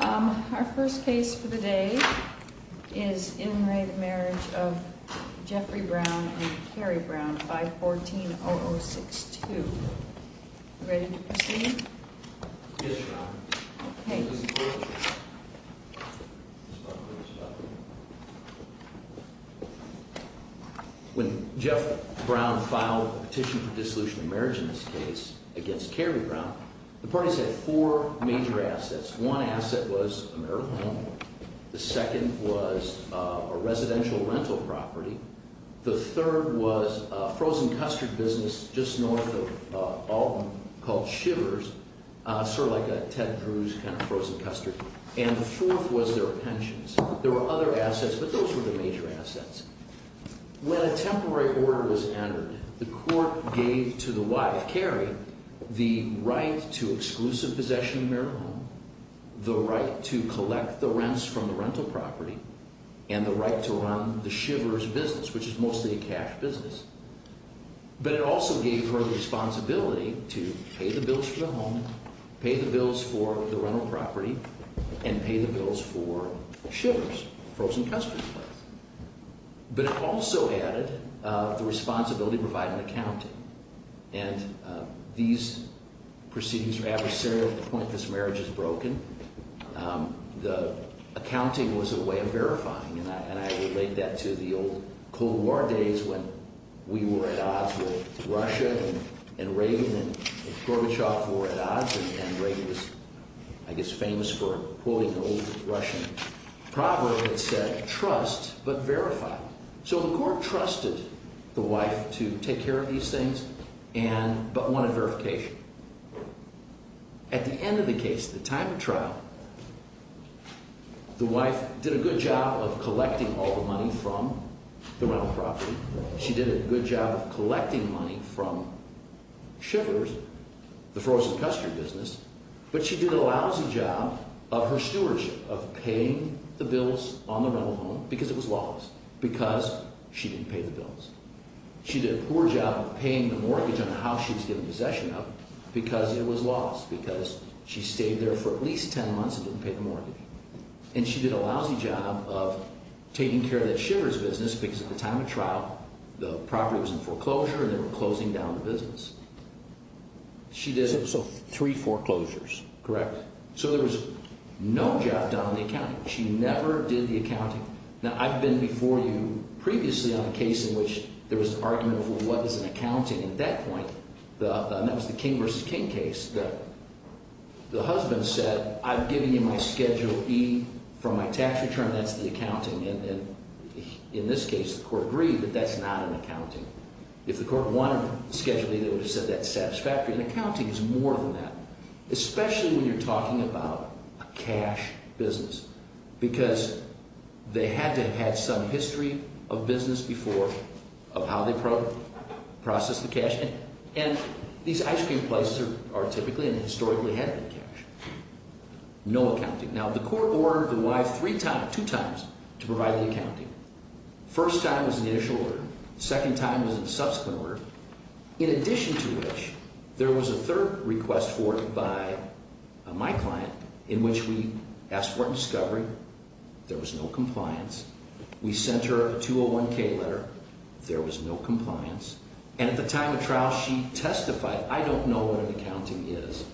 Our first case for the day is in re Marriage of Jeffrey Brown and Carrie Brown, 514-0062. Ready to proceed? Yes, Your Honor. Okay. When Jeff Brown filed a petition for dissolution of marriage in this case against Carrie Brown, the parties had four major assets. One asset was a marital home. The second was a residential rental property. The third was a frozen custard business just north of Alton called Shivers, sort of like a Ted Cruz kind of frozen custard. And the fourth was their pensions. There were other assets, but those were the major assets. The right to exclusive possession of a marital home, the right to collect the rents from the rental property, and the right to run the Shivers business, which is mostly a cash business. But it also gave her the responsibility to pay the bills for the home, pay the bills for the rental property, and pay the bills for Shivers, a frozen custard place. But it also added the responsibility to provide an accounting. And these proceedings are adversarial to the point this marriage is broken. The accounting was a way of verifying, and I relate that to the old Cold War days when we were at odds with Russia and Reagan and Gorbachev were at odds, and Reagan was, I guess, famous for quoting an old Russian proverb that said, So the court trusted the wife to take care of these things but wanted verification. At the end of the case, the time of trial, the wife did a good job of collecting all the money from the rental property. She did a good job of collecting money from Shivers, the frozen custard business, but she did a lousy job of her stewardship, of paying the bills on the rental home, because it was lawless, because she didn't pay the bills. She did a poor job of paying the mortgage on the house she was given possession of, because it was lawless, because she stayed there for at least 10 months and didn't pay the mortgage. And she did a lousy job of taking care of that Shivers business, because at the time of trial, the property was in foreclosure and they were closing down the business. She did it. So three foreclosures. Correct. So there was no job done on the accounting. She never did the accounting. Now, I've been before you previously on a case in which there was an argument over what is an accounting, and at that point, and that was the King v. King case, the husband said, I'm giving you my Schedule E for my tax return, that's the accounting. And in this case, the court agreed that that's not an accounting. If the court wanted Schedule E, they would have said that's satisfactory, and accounting is more than that, especially when you're talking about a cash business, because they had to have had some history of business before of how they process the cash, and these ice cream places are typically and historically had been cash. No accounting. Now, the court ordered the wife three times, two times, to provide the accounting. First time was an initial order. Second time was a subsequent order. In addition to which, there was a third request for it by my client in which we asked for a discovery. There was no compliance. We sent her a 201-K letter. There was no compliance. And at the time of trial, she testified, I don't know what an accounting is.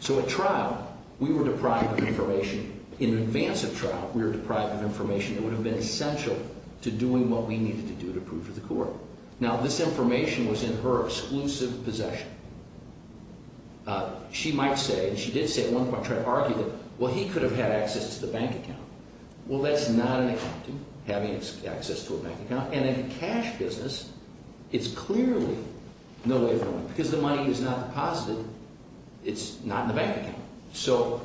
So at trial, we were deprived of information. In advance of trial, we were deprived of information that would have been essential to doing what we needed to do to prove to the court. Now, this information was in her exclusive possession. She might say, and she did say at one point, try to argue that, well, he could have had access to the bank account. Well, that's not an accounting, having access to a bank account. And in a cash business, it's clearly no way of knowing, because the money is not deposited. It's not in the bank account. So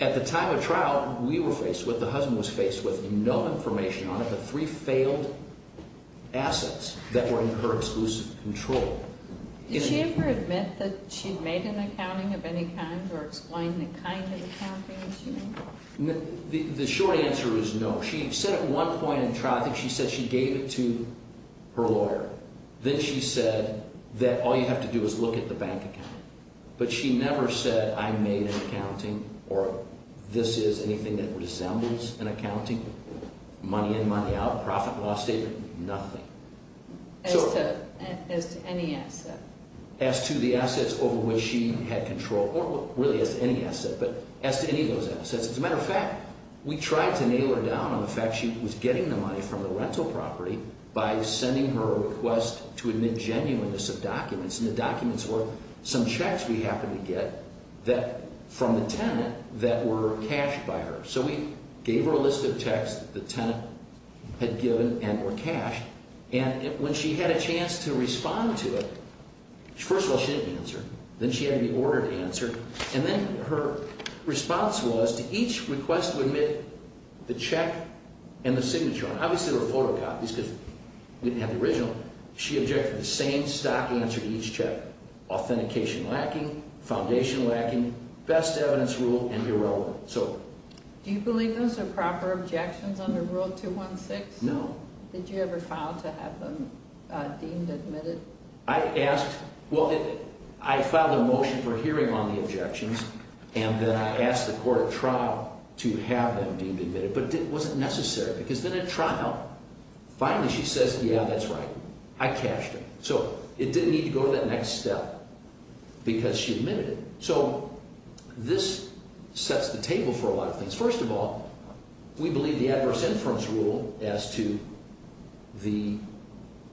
at the time of trial, we were faced with, the husband was faced with, no information on it, the three failed assets that were in her exclusive control. Did she ever admit that she made an accounting of any kind or explain the kind of accounting that she made? The short answer is no. She said at one point in trial, I think she said she gave it to her lawyer. Then she said that all you have to do is look at the bank account. But she never said I made an accounting or this is anything that resembles an accounting, money in, money out, profit, loss statement, nothing. As to any asset? As to the assets over which she had control, or really as to any asset, but as to any of those assets. As a matter of fact, we tried to nail her down on the fact she was getting the money from the rental property by sending her a request to admit genuineness of documents. And the documents were some checks we happened to get from the tenant that were cashed by her. So we gave her a list of checks the tenant had given and were cashed. And when she had a chance to respond to it, first of all, she didn't answer. Then she had to be ordered to answer. And then her response was to each request to admit the check and the signature. Obviously, there were photocopies because we didn't have the original. She objected to the same stock answer to each check. Authentication lacking, foundation lacking, best evidence rule, and irrelevant. Do you believe those are proper objections under Rule 216? No. Did you ever file to have them deemed admitted? I filed a motion for hearing on the objections, and then I asked the court at trial to have them deemed admitted. But it wasn't necessary because then at trial, finally she says, yeah, that's right. I cashed it. So it didn't need to go to that next step because she admitted it. So this sets the table for a lot of things. First of all, we believe the adverse inference rule as to the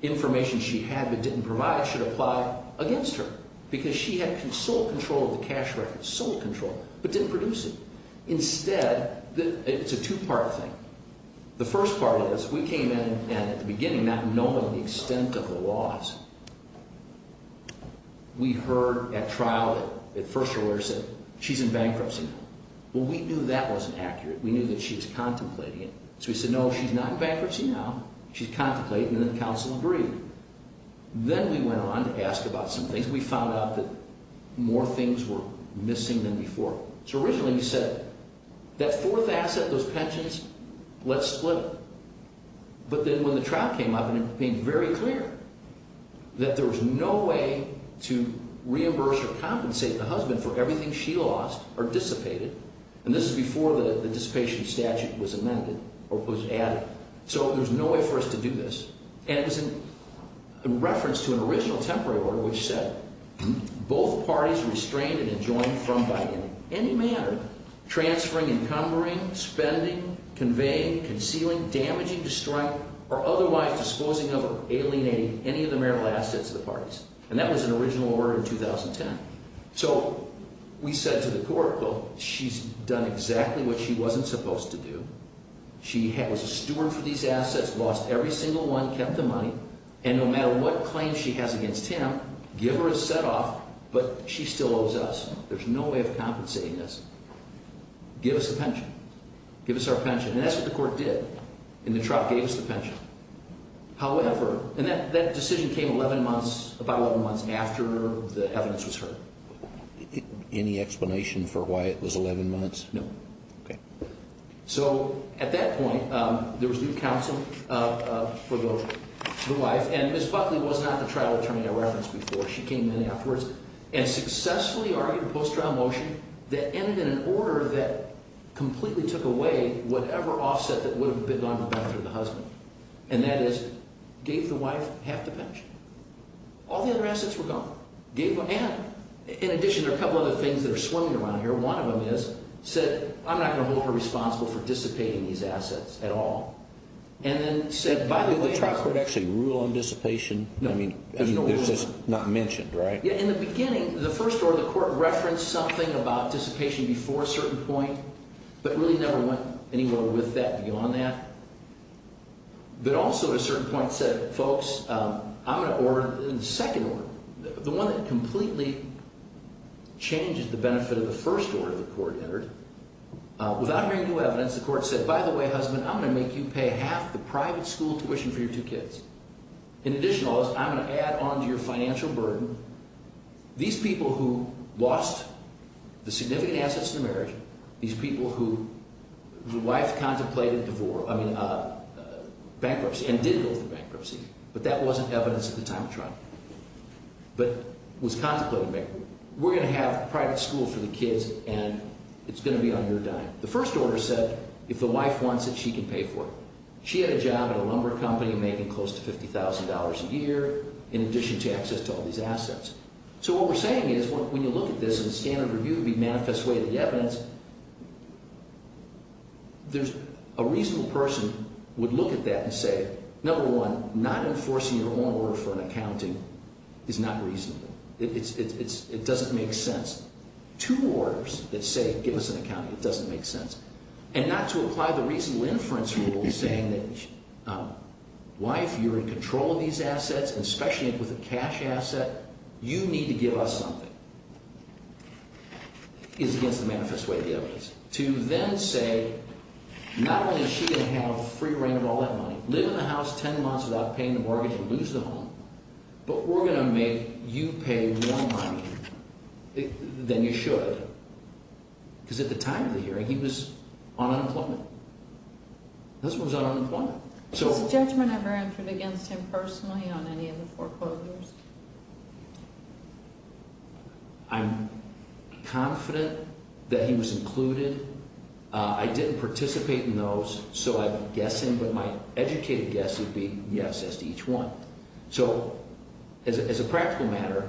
information she had but didn't provide should apply against her because she had sole control of the cash records, sole control, but didn't produce it. Instead, it's a two-part thing. The first part is we came in and at the beginning, not knowing the extent of the laws, we heard at trial that first her lawyer said, she's in bankruptcy now. Well, we knew that wasn't accurate. We knew that she was contemplating it. So we said, no, she's not in bankruptcy now. She's contemplating it, and the counsel agreed. Then we went on to ask about some things. We found out that more things were missing than before. So originally we said, that fourth asset, those pensions, let's split it. But then when the trial came up, it became very clear that there was no way to reimburse or compensate the husband for everything she lost or dissipated. And this is before the dissipation statute was amended or was added. So there's no way for us to do this. And it was in reference to an original temporary order which said, both parties restrained and enjoined from, by any manner, transferring, encumbering, spending, conveying, concealing, damaging, destroying, or otherwise disposing of or alienating any of the marital assets of the parties. And that was an original order in 2010. So we said to the court, well, she's done exactly what she wasn't supposed to do. She was a steward for these assets, lost every single one, kept the money. And no matter what claim she has against him, give her a set off, but she still owes us. There's no way of compensating this. Give us the pension. Give us our pension. And that's what the court did. And the trial gave us the pension. However, and that decision came 11 months, about 11 months after the evidence was heard. Any explanation for why it was 11 months? No. Okay. So at that point, there was new counsel for the wife. And Ms. Buckley was not the trial attorney I referenced before. She came in afterwards and successfully argued a post-trial motion that ended in an order that completely took away whatever offset that would have been on the benefit of the husband. And that is gave the wife half the pension. All the other assets were gone. And in addition, there are a couple other things that are swimming around here. One of them is, said, I'm not going to hold her responsible for dissipating these assets at all. And then said, by the way, Did the trial court actually rule on dissipation? No. I mean, it's just not mentioned, right? Yeah. In the beginning, the first order of the court referenced something about dissipation before a certain point, but really never went anywhere with that beyond that. But also, at a certain point, said, folks, I'm going to order a second order, the one that completely changes the benefit of the first order the court entered. Without hearing new evidence, the court said, by the way, husband, I'm going to make you pay half the private school tuition for your two kids. In addition to all this, I'm going to add on to your financial burden these people who lost the significant assets in the marriage, these people who the wife contemplated divorce. I mean, bankruptcy, and did go through bankruptcy. But that wasn't evidence at the time of trial. But was contemplated bankruptcy. We're going to have private schools for the kids, and it's going to be on your dime. The first order said, if the wife wants it, she can pay for it. She had a job at a lumber company making close to $50,000 a year in addition to access to all these assets. So what we're saying is when you look at this in a standard review, the manifest way of the evidence, there's a reasonable person would look at that and say, number one, not enforcing your own order for an accounting is not reasonable. It doesn't make sense. Two orders that say give us an accounting, it doesn't make sense. And not to apply the reasonable inference rule saying that wife, you're in control of these assets, and especially with a cash asset, you need to give us something is against the manifest way of the evidence. To then say not only is she going to have free reign of all that money, live in the house 10 months without paying the mortgage and lose the home, but we're going to make you pay more money than you should. Because at the time of the hearing, he was on unemployment. This was on unemployment. Has the judgment ever entered against him personally on any of the foreclosures? I'm confident that he was included. I didn't participate in those, so I'm guessing, but my educated guess would be yes as to each one. So as a practical matter,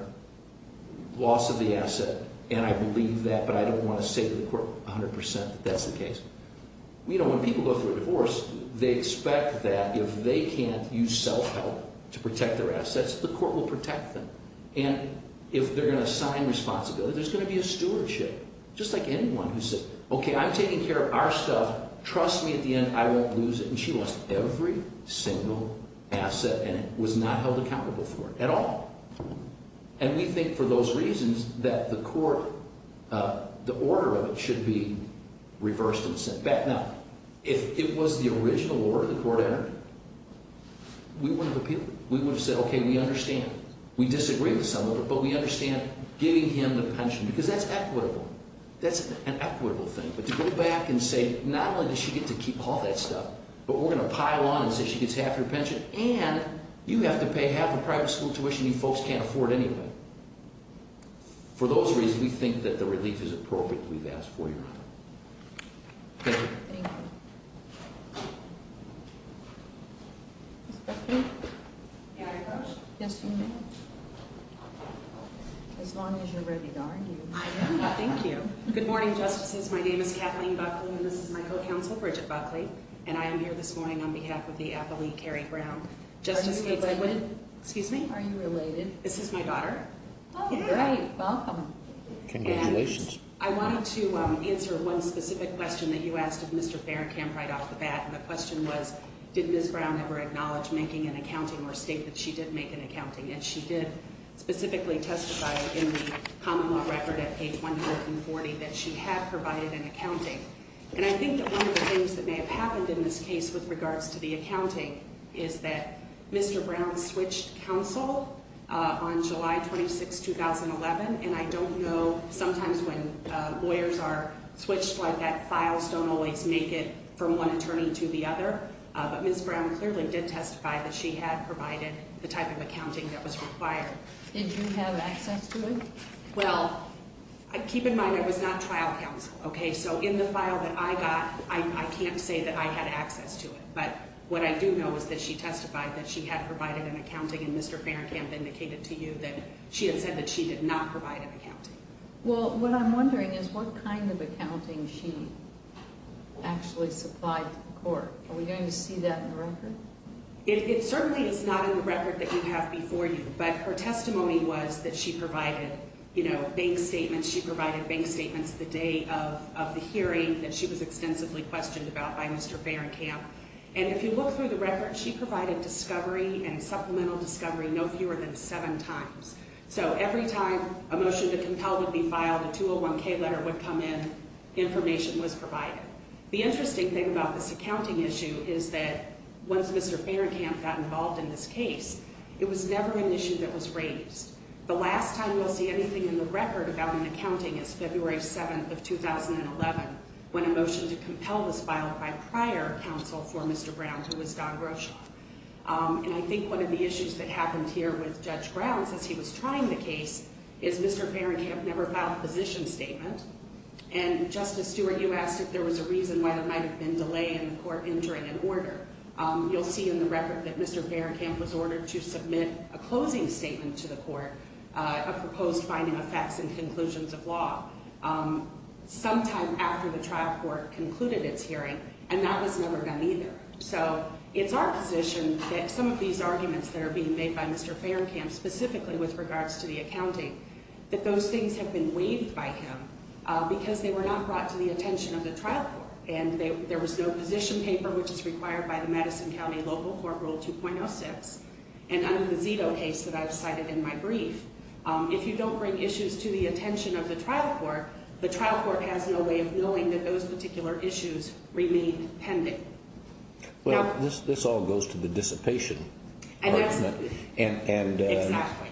loss of the asset, and I believe that, but I don't want to say to the court 100% that that's the case. When people go through a divorce, they expect that if they can't use self-help to protect their assets, the court will protect them. And if they're going to assign responsibility, there's going to be a stewardship. Just like anyone who says, okay, I'm taking care of our stuff. Trust me at the end, I won't lose it. And she lost every single asset and was not held accountable for it at all. And we think for those reasons that the court, the order of it should be reversed and sent back. Now, if it was the original order the court entered, we wouldn't have appealed it. We would have said, okay, we understand. We disagree with some of it, but we understand giving him the pension because that's equitable. That's an equitable thing. But to go back and say, not only does she get to keep all that stuff, but we're going to pile on and say she gets half her pension, and you have to pay half the private school tuition you folks can't afford anyway. For those reasons, we think that the relief is appropriate that we've asked for, Your Honor. Thank you. Thank you. Ms. Griffin? May I, Coach? Yes, you may. As long as you're ready to argue. I am. Thank you. Good morning, Justices. My name is Kathleen Buckley, and this is my co-counsel, Bridget Buckley, and I am here this morning on behalf of the athlete, Carrie Brown. Are you related? Excuse me? Are you related? This is my daughter. Oh, great. Welcome. Congratulations. I wanted to answer one specific question that you asked of Mr. Faircamp right off the bat, and the question was, did Ms. Brown ever acknowledge making an accounting or state that she did make an accounting? And she did specifically testify in the common law record at page 140 that she had provided an accounting. And I think that one of the things that may have happened in this case with regards to the accounting is that Mr. Brown switched counsel on July 26, 2011, and I don't know, sometimes when lawyers are switched like that, files don't always make it from one attorney to the other. But Ms. Brown clearly did testify that she had provided the type of accounting that was required. Did you have access to it? Well, keep in mind it was not trial counsel, okay? So in the file that I got, I can't say that I had access to it. But what I do know is that she testified that she had provided an accounting, and Mr. Faircamp indicated to you that she had said that she did not provide an accounting. Well, what I'm wondering is what kind of accounting she actually supplied to the court. Are we going to see that in the record? It certainly is not in the record that you have before you. But her testimony was that she provided bank statements. She provided bank statements the day of the hearing that she was extensively questioned about by Mr. Faircamp. And if you look through the record, she provided discovery and supplemental discovery no fewer than seven times. So every time a motion to compel would be filed, a 201-K letter would come in, information was provided. The interesting thing about this accounting issue is that once Mr. Faircamp got involved in this case, it was never an issue that was raised. The last time we'll see anything in the record about an accounting is February 7th of 2011 when a motion to compel was filed by prior counsel for Mr. Brown, who was Don Roshoff. And I think one of the issues that happened here with Judge Brown since he was trying the case is Mr. Faircamp never filed a position statement. And, Justice Stewart, you asked if there was a reason why there might have been delay in the court entering an order. You'll see in the record that Mr. Faircamp was ordered to submit a closing statement to the court, a proposed finding of facts and conclusions of law, sometime after the trial court concluded its hearing, and that was never done either. So it's our position that some of these arguments that are being made by Mr. Faircamp, specifically with regards to the accounting, that those things have been waived by him because they were not brought to the attention of the trial court. And there was no position paper, which is required by the Madison County Local Court Rule 2.06, and under the Zito case that I've cited in my brief. If you don't bring issues to the attention of the trial court, the trial court has no way of knowing that those particular issues remain pending. Well, this all goes to the dissipation argument. Exactly.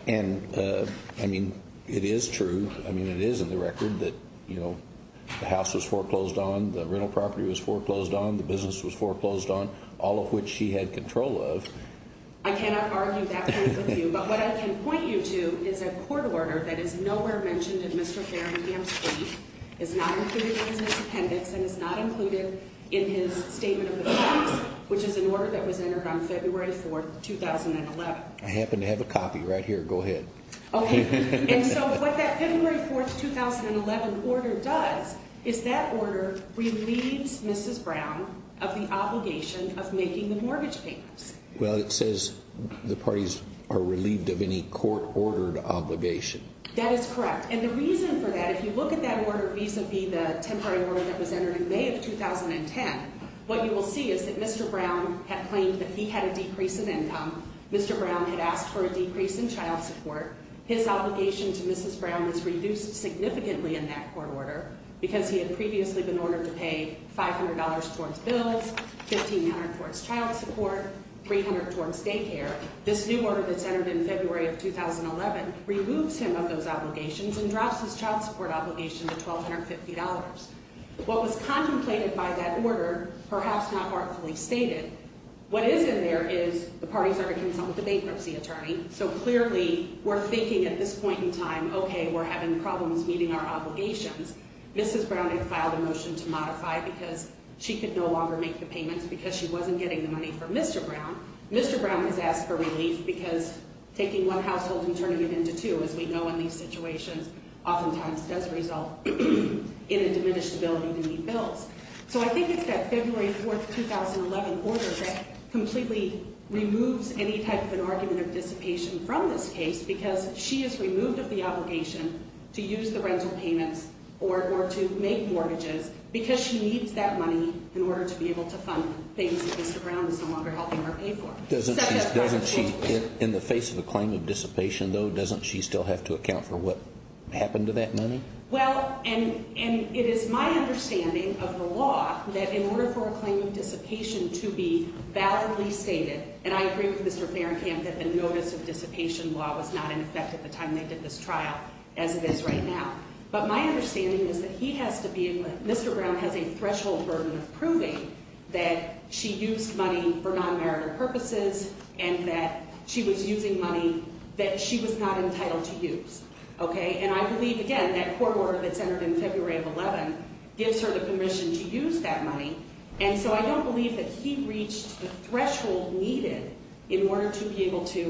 And, I mean, it is true. I mean, it is in the record that the house was foreclosed on, the rental property was foreclosed on, the business was foreclosed on, all of which he had control of. I cannot argue that point with you. But what I can point you to is a court order that is nowhere mentioned in Mr. Faircamp's brief, is not included in his appendix, and is not included in his statement of the facts, which is an order that was entered on February 4, 2011. I happen to have a copy right here. Go ahead. Okay. And so what that February 4, 2011 order does is that order relieves Mrs. Brown of the obligation of making the mortgage payments. Well, it says the parties are relieved of any court-ordered obligation. That is correct. And the reason for that, if you look at that order vis-a-vis the temporary order that was entered in May of 2010, what you will see is that Mr. Brown had claimed that he had a decrease in income. Mr. Brown had asked for a decrease in child support. His obligation to Mrs. Brown was reduced significantly in that court order because he had previously been ordered to pay $500 towards bills, $1,500 towards child support, $300 towards daycare. However, this new order that's entered in February of 2011 removes him of those obligations and drops his child support obligation to $1,250. What was contemplated by that order, perhaps not heartfully stated, what is in there is the parties are to consult with the bankruptcy attorney. So clearly, we're thinking at this point in time, okay, we're having problems meeting our obligations. Mrs. Brown had filed a motion to modify because she could no longer make the payments because she wasn't getting the money for Mr. Brown. Mr. Brown has asked for relief because taking one household and turning it into two, as we know in these situations, oftentimes does result in a diminished ability to meet bills. So I think it's that February 4, 2011 order that completely removes any type of an argument of dissipation from this case because she is removed of the obligation to use the rental payments or to make mortgages because she needs that money in order to be able to fund things that Mr. Brown is no longer helping her pay for. In the face of a claim of dissipation, though, doesn't she still have to account for what happened to that money? Well, and it is my understanding of the law that in order for a claim of dissipation to be validly stated, and I agree with Mr. Farringham that the notice of dissipation law was not in effect at the time they did this trial as it is right now. But my understanding is that Mr. Brown has a threshold burden of proving that she used money for non-marital purposes and that she was using money that she was not entitled to use. And I believe, again, that court order that's entered in February of 2011 gives her the permission to use that money, and so I don't believe that he reached the threshold needed in order to be able to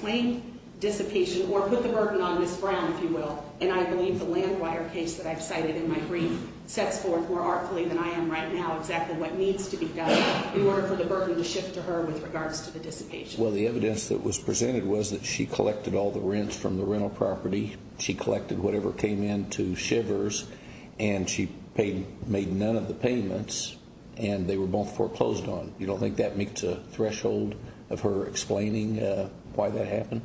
claim dissipation or put the burden on Ms. Brown, if you will. And I believe the land wire case that I've cited in my brief sets forth more artfully than I am right now exactly what needs to be done in order for the burden to shift to her with regards to the dissipation. Well, the evidence that was presented was that she collected all the rents from the rental property. She collected whatever came into Shivers, and she made none of the payments, and they were both foreclosed on. You don't think that meets a threshold of her explaining why that happened?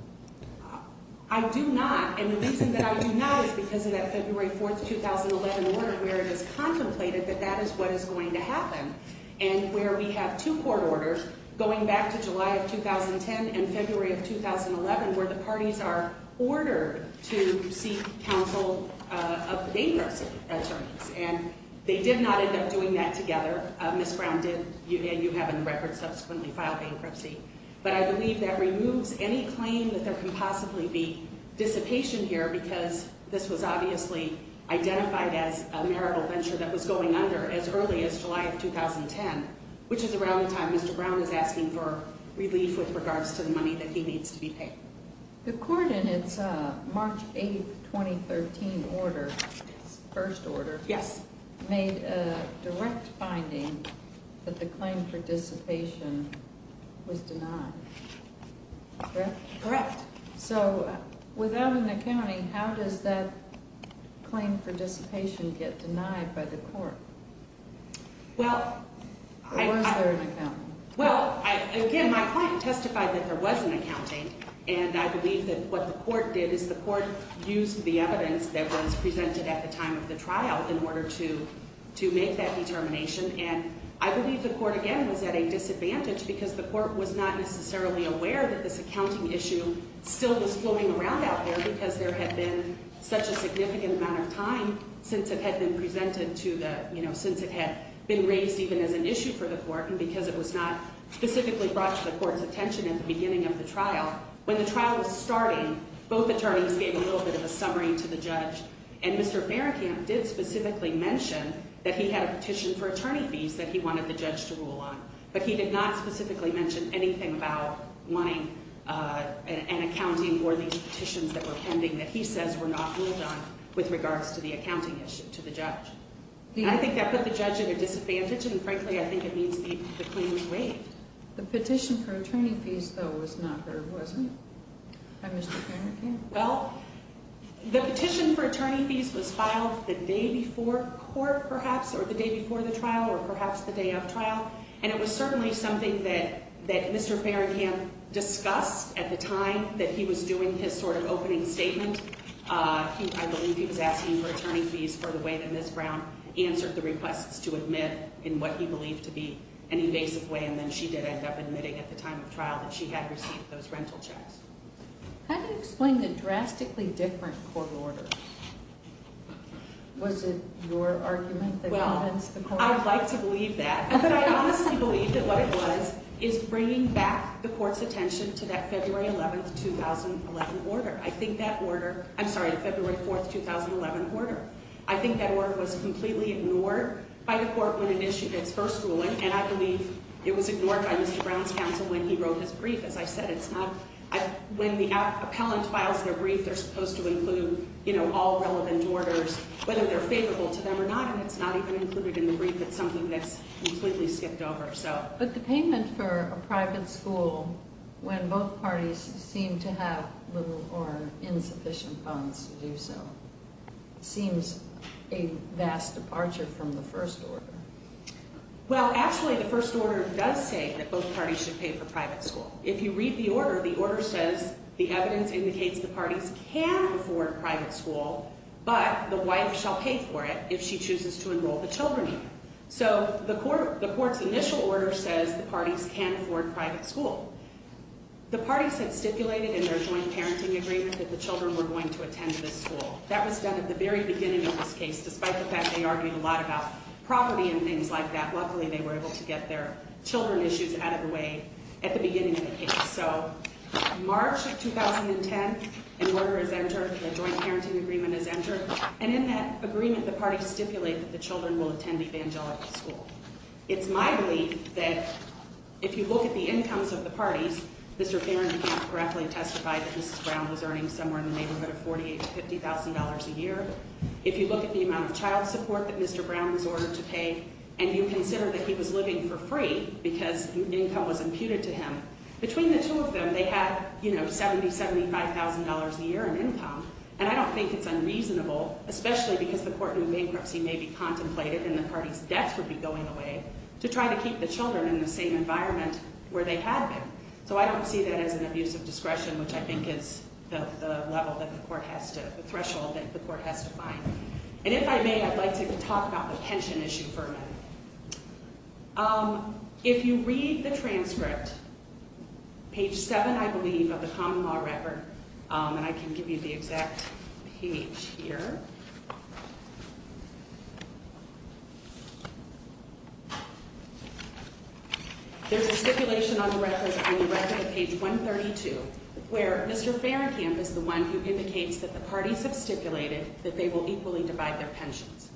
I do not. And the reason that I do not is because of that February 4, 2011 order where it is contemplated that that is what is going to happen and where we have two court orders going back to July of 2010 and February of 2011 where the parties are ordered to seek counsel of the bankruptcy attorneys. And they did not end up doing that together. Ms. Brown did, and you have in the record subsequently filed bankruptcy. But I believe that removes any claim that there can possibly be dissipation here because this was obviously identified as a marital venture that was going under as early as July of 2010, which is around the time Mr. Brown is asking for relief with regards to the money that he needs to be paid. The court in its March 8, 2013 order, its first order, made a direct finding that the claim for dissipation was denied. Correct? Correct. So without an accounting, how does that claim for dissipation get denied by the court? Was there an accounting? Well, again, my client testified that there was an accounting. And I believe that what the court did is the court used the evidence that was presented at the time of the trial in order to make that determination. And I believe the court, again, was at a disadvantage because the court was not necessarily aware that this accounting issue still was floating around out there because there had been such a significant amount of time since it had been presented to the, you know, since it had been raised even as an issue for the court. And because it was not specifically brought to the court's attention at the beginning of the trial, when the trial was starting, both attorneys gave a little bit of a summary to the judge. And Mr. Farrakhan did specifically mention that he had a petition for attorney fees that he wanted the judge to rule on. But he did not specifically mention anything about wanting an accounting or these petitions that were pending that he says were not ruled on with regards to the accounting issue to the judge. I think that put the judge at a disadvantage, and frankly, I think it means the claim was waived. The petition for attorney fees, though, was not heard, was it, by Mr. Farrakhan? Well, the petition for attorney fees was filed the day before court, perhaps, or the day before the trial, or perhaps the day of trial. And it was certainly something that Mr. Farrakhan discussed at the time that he was doing his sort of opening statement. I believe he was asking for attorney fees for the way that Ms. Brown answered the requests to admit in what he believed to be an invasive way, and then she did end up admitting at the time of trial that she had received those rental checks. How do you explain the drastically different court order? Was it your argument that governs the court order? Well, I'd like to believe that, but I honestly believe that what it was is bringing back the court's attention to that February 11, 2011 order. I'm sorry, the February 4, 2011 order. I think that order was completely ignored by the court when it issued its first ruling, and I believe it was ignored by Mr. Brown's counsel when he wrote his brief. As I said, when the appellant files their brief, they're supposed to include all relevant orders, whether they're favorable to them or not, and it's not even included in the brief. It's something that's completely skipped over. But the payment for a private school, when both parties seem to have little or insufficient funds to do so, seems a vast departure from the first order. Well, actually, the first order does say that both parties should pay for private school. If you read the order, the order says the evidence indicates the parties can afford private school, but the wife shall pay for it if she chooses to enroll the children in it. So the court's initial order says the parties can afford private school. The parties had stipulated in their joint parenting agreement that the children were going to attend this school. That was done at the very beginning of this case, despite the fact they argued a lot about property and things like that. Luckily, they were able to get their children issues out of the way at the beginning of the case. So March of 2010, an order is entered, a joint parenting agreement is entered, and in that agreement, the parties stipulate that the children will attend evangelical school. It's my belief that if you look at the incomes of the parties, Mr. Barron, you can't correctly testify that Mrs. Brown was earning somewhere in the neighborhood of $48,000 to $50,000 a year. If you look at the amount of child support that Mr. Brown was ordered to pay, and you consider that he was living for free because income was imputed to him, between the two of them, they had, you know, $70,000, $75,000 a year in income, and I don't think it's unreasonable, especially because the court knew bankruptcy may be contemplated and the parties' debts would be going away, to try to keep the children in the same environment where they had been. So I don't see that as an abuse of discretion, which I think is the level that the court has to, the threshold that the court has to find. And if I may, I'd like to talk about the pension issue for a minute. If you read the transcript, page 7, I believe, of the Common Law Record, and I can give you the exact page here. There's a stipulation on the record, on the record at page 132, where Mr. Farringham is the one who indicates that the parties have stipulated that they will equally divide their pensions.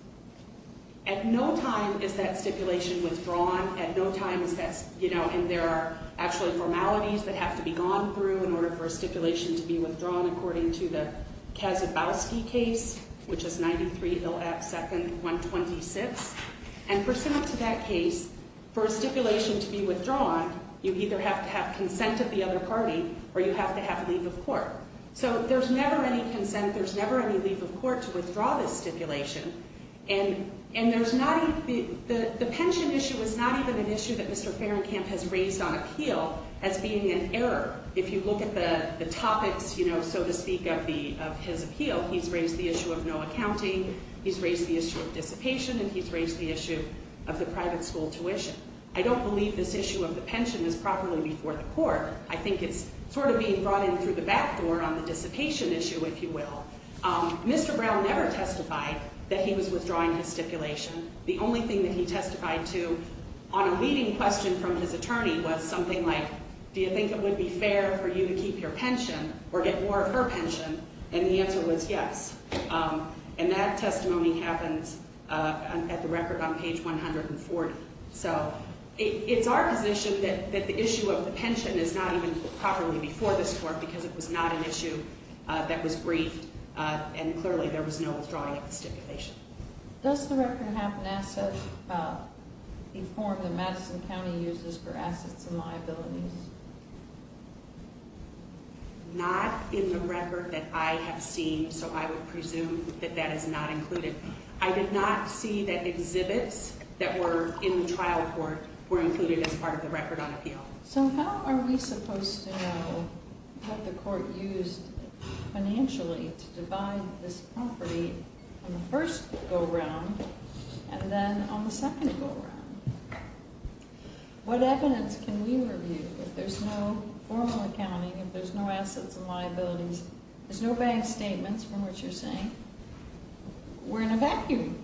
At no time is that stipulation withdrawn. At no time is that, you know, and there are actually formalities that have to be gone through in order for a stipulation to be withdrawn, according to the Kazabowski case, which is 93-2-126. And pursuant to that case, for a stipulation to be withdrawn, you either have to have consent of the other party, or you have to have leave of court. So there's never any consent, there's never any leave of court to withdraw this stipulation. And there's not, the pension issue is not even an issue that Mr. Farringham has raised on appeal as being an error. If you look at the topics, you know, so to speak, of his appeal, he's raised the issue of no accounting, he's raised the issue of dissipation, and he's raised the issue of the private school tuition. I don't believe this issue of the pension is properly before the court. I think it's sort of being brought in through the back door on the dissipation issue, if you will. Mr. Brown never testified that he was withdrawing his stipulation. The only thing that he testified to on a leading question from his attorney was something like, do you think it would be fair for you to keep your pension or get more of her pension? And the answer was yes. And that testimony happens at the record on page 140. So it's our position that the issue of the pension is not even properly before this court because it was not an issue that was briefed, and clearly there was no withdrawing of the stipulation. Does the record have an asset, a form that Madison County uses for assets and liabilities? Not in the record that I have seen, so I would presume that that is not included. I did not see that exhibits that were in the trial court were included as part of the record on appeal. So how are we supposed to know what the court used financially to divide this property on the first go-round and then on the second go-round? What evidence can we review if there's no formal accounting, if there's no assets and liabilities, if there's no bank statements, from what you're saying, we're in a vacuum?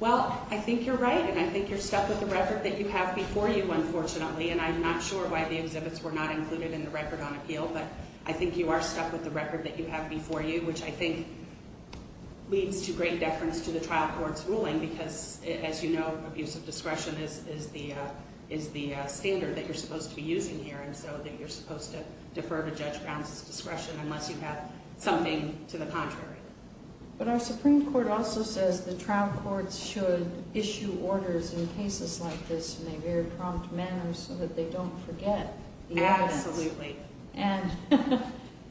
Well, I think you're right, and I think you're stuck with the record that you have before you, unfortunately, and I'm not sure why the exhibits were not included in the record on appeal, but I think you are stuck with the record that you have before you, which I think leads to great deference to the trial court's ruling because, as you know, abuse of discretion is the standard that you're supposed to be using here, so that you're supposed to defer to Judge Brown's discretion unless you have something to the contrary. But our Supreme Court also says the trial courts should issue orders in cases like this in a very prompt manner so that they don't forget the evidence. Absolutely. And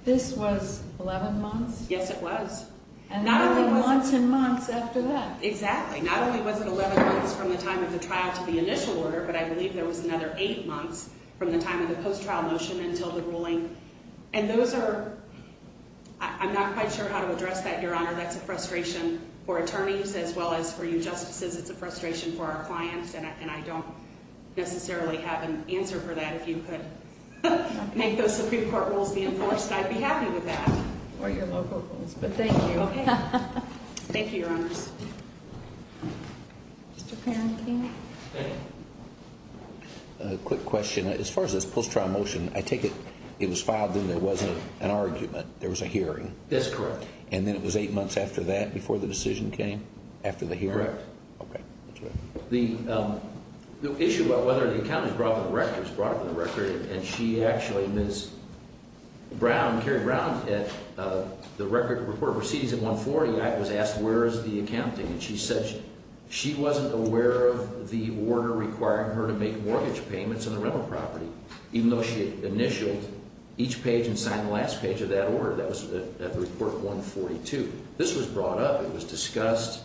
this was 11 months? Yes, it was. And only months and months after that. Exactly. Not only was it 11 months from the time of the trial to the initial order, but I believe there was another eight months from the time of the post-trial motion until the ruling. And those are – I'm not quite sure how to address that, Your Honor. That's a frustration for attorneys as well as for you justices. It's a frustration for our clients, and I don't necessarily have an answer for that. If you could make those Supreme Court rules be enforced, I'd be happy with that. Or your local rules, but thank you. Okay. Thank you, Your Honors. Mr. Perron, can you? Thank you. A quick question. As far as this post-trial motion, I take it it was filed and there wasn't an argument, there was a hearing? That's correct. And then it was eight months after that before the decision came, after the hearing? Correct. Okay. The issue about whether the account is brought up in the record is brought up in the record, and she actually, Ms. Brown, Carrie Brown, at the Record of Proceedings at 140, I was asked, where is the accounting? And she said she wasn't aware of the order requiring her to make mortgage payments on a rental property, even though she had initialed each page and signed the last page of that order. That was at Report 142. This was brought up. It was discussed.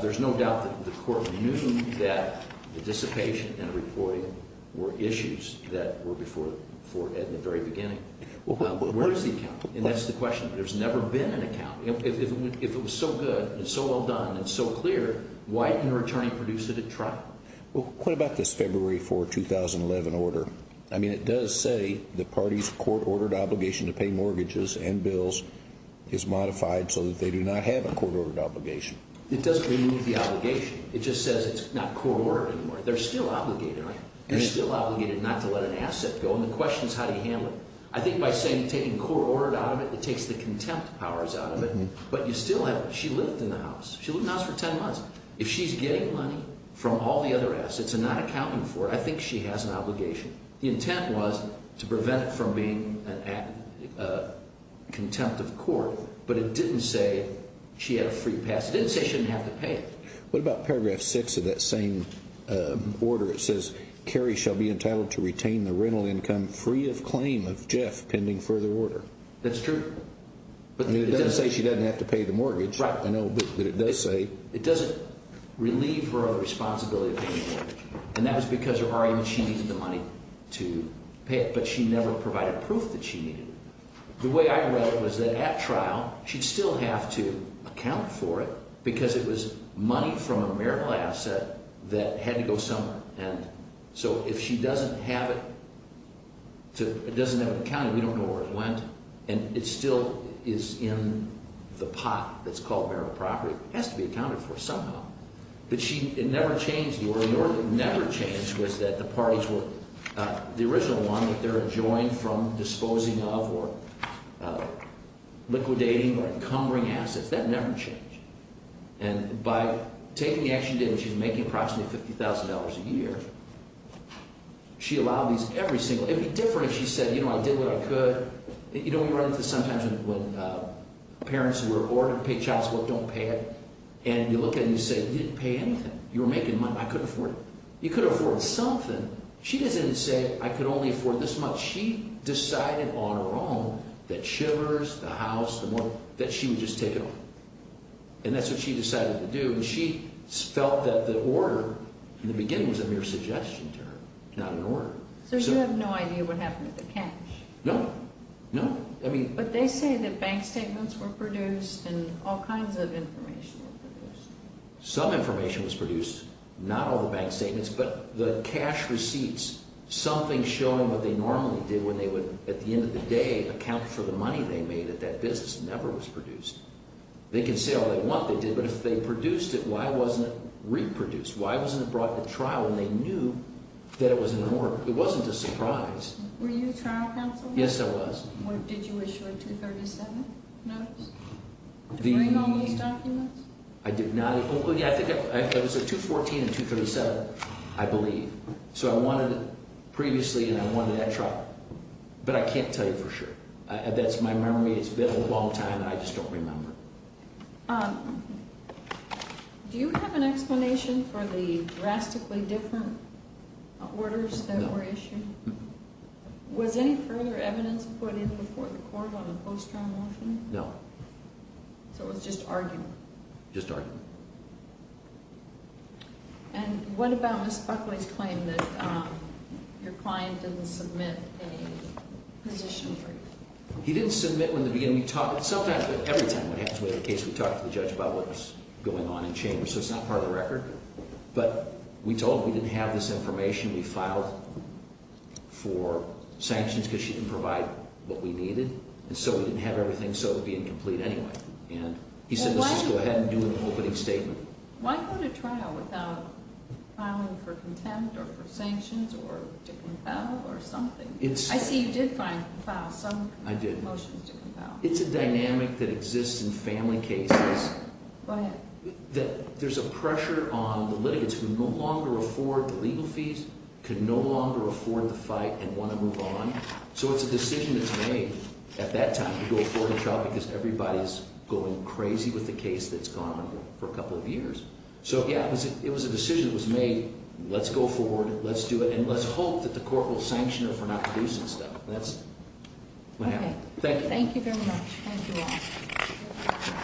There's no doubt that the court knew that the dissipation and the reporting were issues that were before it at the very beginning. Where is the accounting? And that's the question. There's never been an accounting. If it was so good and so well done and so clear, why didn't her attorney produce it at trial? Well, what about this February 4, 2011 order? I mean, it does say the party's court-ordered obligation to pay mortgages and bills is modified so that they do not have a court-ordered obligation. It doesn't really need the obligation. It just says it's not court-ordered anymore. They're still obligated, right? They're still obligated not to let an asset go, and the question is how do you handle it? I think by saying taking court-ordered out of it, it takes the contempt powers out of it. But you still have it. She lived in the house. She lived in the house for 10 months. If she's getting money from all the other assets and not accounting for it, I think she has an obligation. The intent was to prevent it from being a contempt of court, but it didn't say she had a free pass. It didn't say she didn't have to pay it. What about paragraph 6 of that same order? It says, Carrie shall be entitled to retain the rental income free of claim of Jeff pending further order. That's true. It doesn't say she doesn't have to pay the mortgage. Right. I know, but it does say. It doesn't relieve her of the responsibility of paying the mortgage, and that was because her argument she needed the money to pay it, but she never provided proof that she needed it. The way I read it was that at trial, she'd still have to account for it because it was money from a marital asset that had to go somewhere. And so if she doesn't have it, it doesn't have it accounted. We don't know where it went, and it still is in the pot that's called marital property. It has to be accounted for somehow. But she never changed the order. The order that never changed was that the parties were the original one, that they're adjoined from disposing of or liquidating or encumbering assets. That never changed. And by taking the action she did, and she was making approximately $50,000 a year, she allowed these every single day. It would be different if she said, you know, I did what I could. You know, we run into sometimes when parents who were ordered to pay child support don't pay it, and you look at it and you say, you didn't pay anything. You were making money. I couldn't afford it. You could afford something. She doesn't say, I could only afford this much. She decided on her own that shivers, the house, the mortgage, that she would just take it all. And that's what she decided to do, and she felt that the order in the beginning was a mere suggestion to her, not an order. So you have no idea what happened with the cash? No. No. But they say that bank statements were produced and all kinds of information were produced. Some information was produced. Not all the bank statements, but the cash receipts, something showing what they normally did when they would, at the end of the day, account for the money they made, that that business never was produced. They can say all they want they did, but if they produced it, why wasn't it reproduced? Why wasn't it brought to trial when they knew that it was an order? It wasn't a surprise. Were you trial counsel? Yes, I was. Did you issue a 237 notice? Did you bring all those documents? I did not. I think it was a 214 and 237, I believe. So I wanted it previously, and I wanted that trial. But I can't tell you for sure. That's my memory. It's been a long time, and I just don't remember. Do you have an explanation for the drastically different orders that were issued? Was any further evidence put in before the court on a post-trial motion? No. So it was just argument? Just argument. And what about Ms. Buckley's claim that your client didn't submit a position brief? He didn't submit one. In the beginning, we talked. Sometimes, but every time, what happens when we have a case, we talk to the judge about what's going on in chambers. So it's not part of the record. But we told him we didn't have this information. We filed for sanctions because she didn't provide what we needed. And so we didn't have everything, so it would be incomplete anyway. And he said, let's just go ahead and do an opening statement. Why go to trial without filing for contempt or for sanctions or to compel or something? I see you did file some motions to compel. It's a dynamic that exists in family cases. Go ahead. There's a pressure on the litigants who no longer afford the legal fees, could no longer afford the fight, and want to move on. So it's a decision that's made at that time to go forward to trial because everybody's going crazy with the case that's gone on for a couple of years. So, yeah, it was a decision that was made. Let's go forward. Let's do it. And let's hope that the court will sanction her for not producing stuff. That's what happened. Thank you. Thank you very much. Thank you all.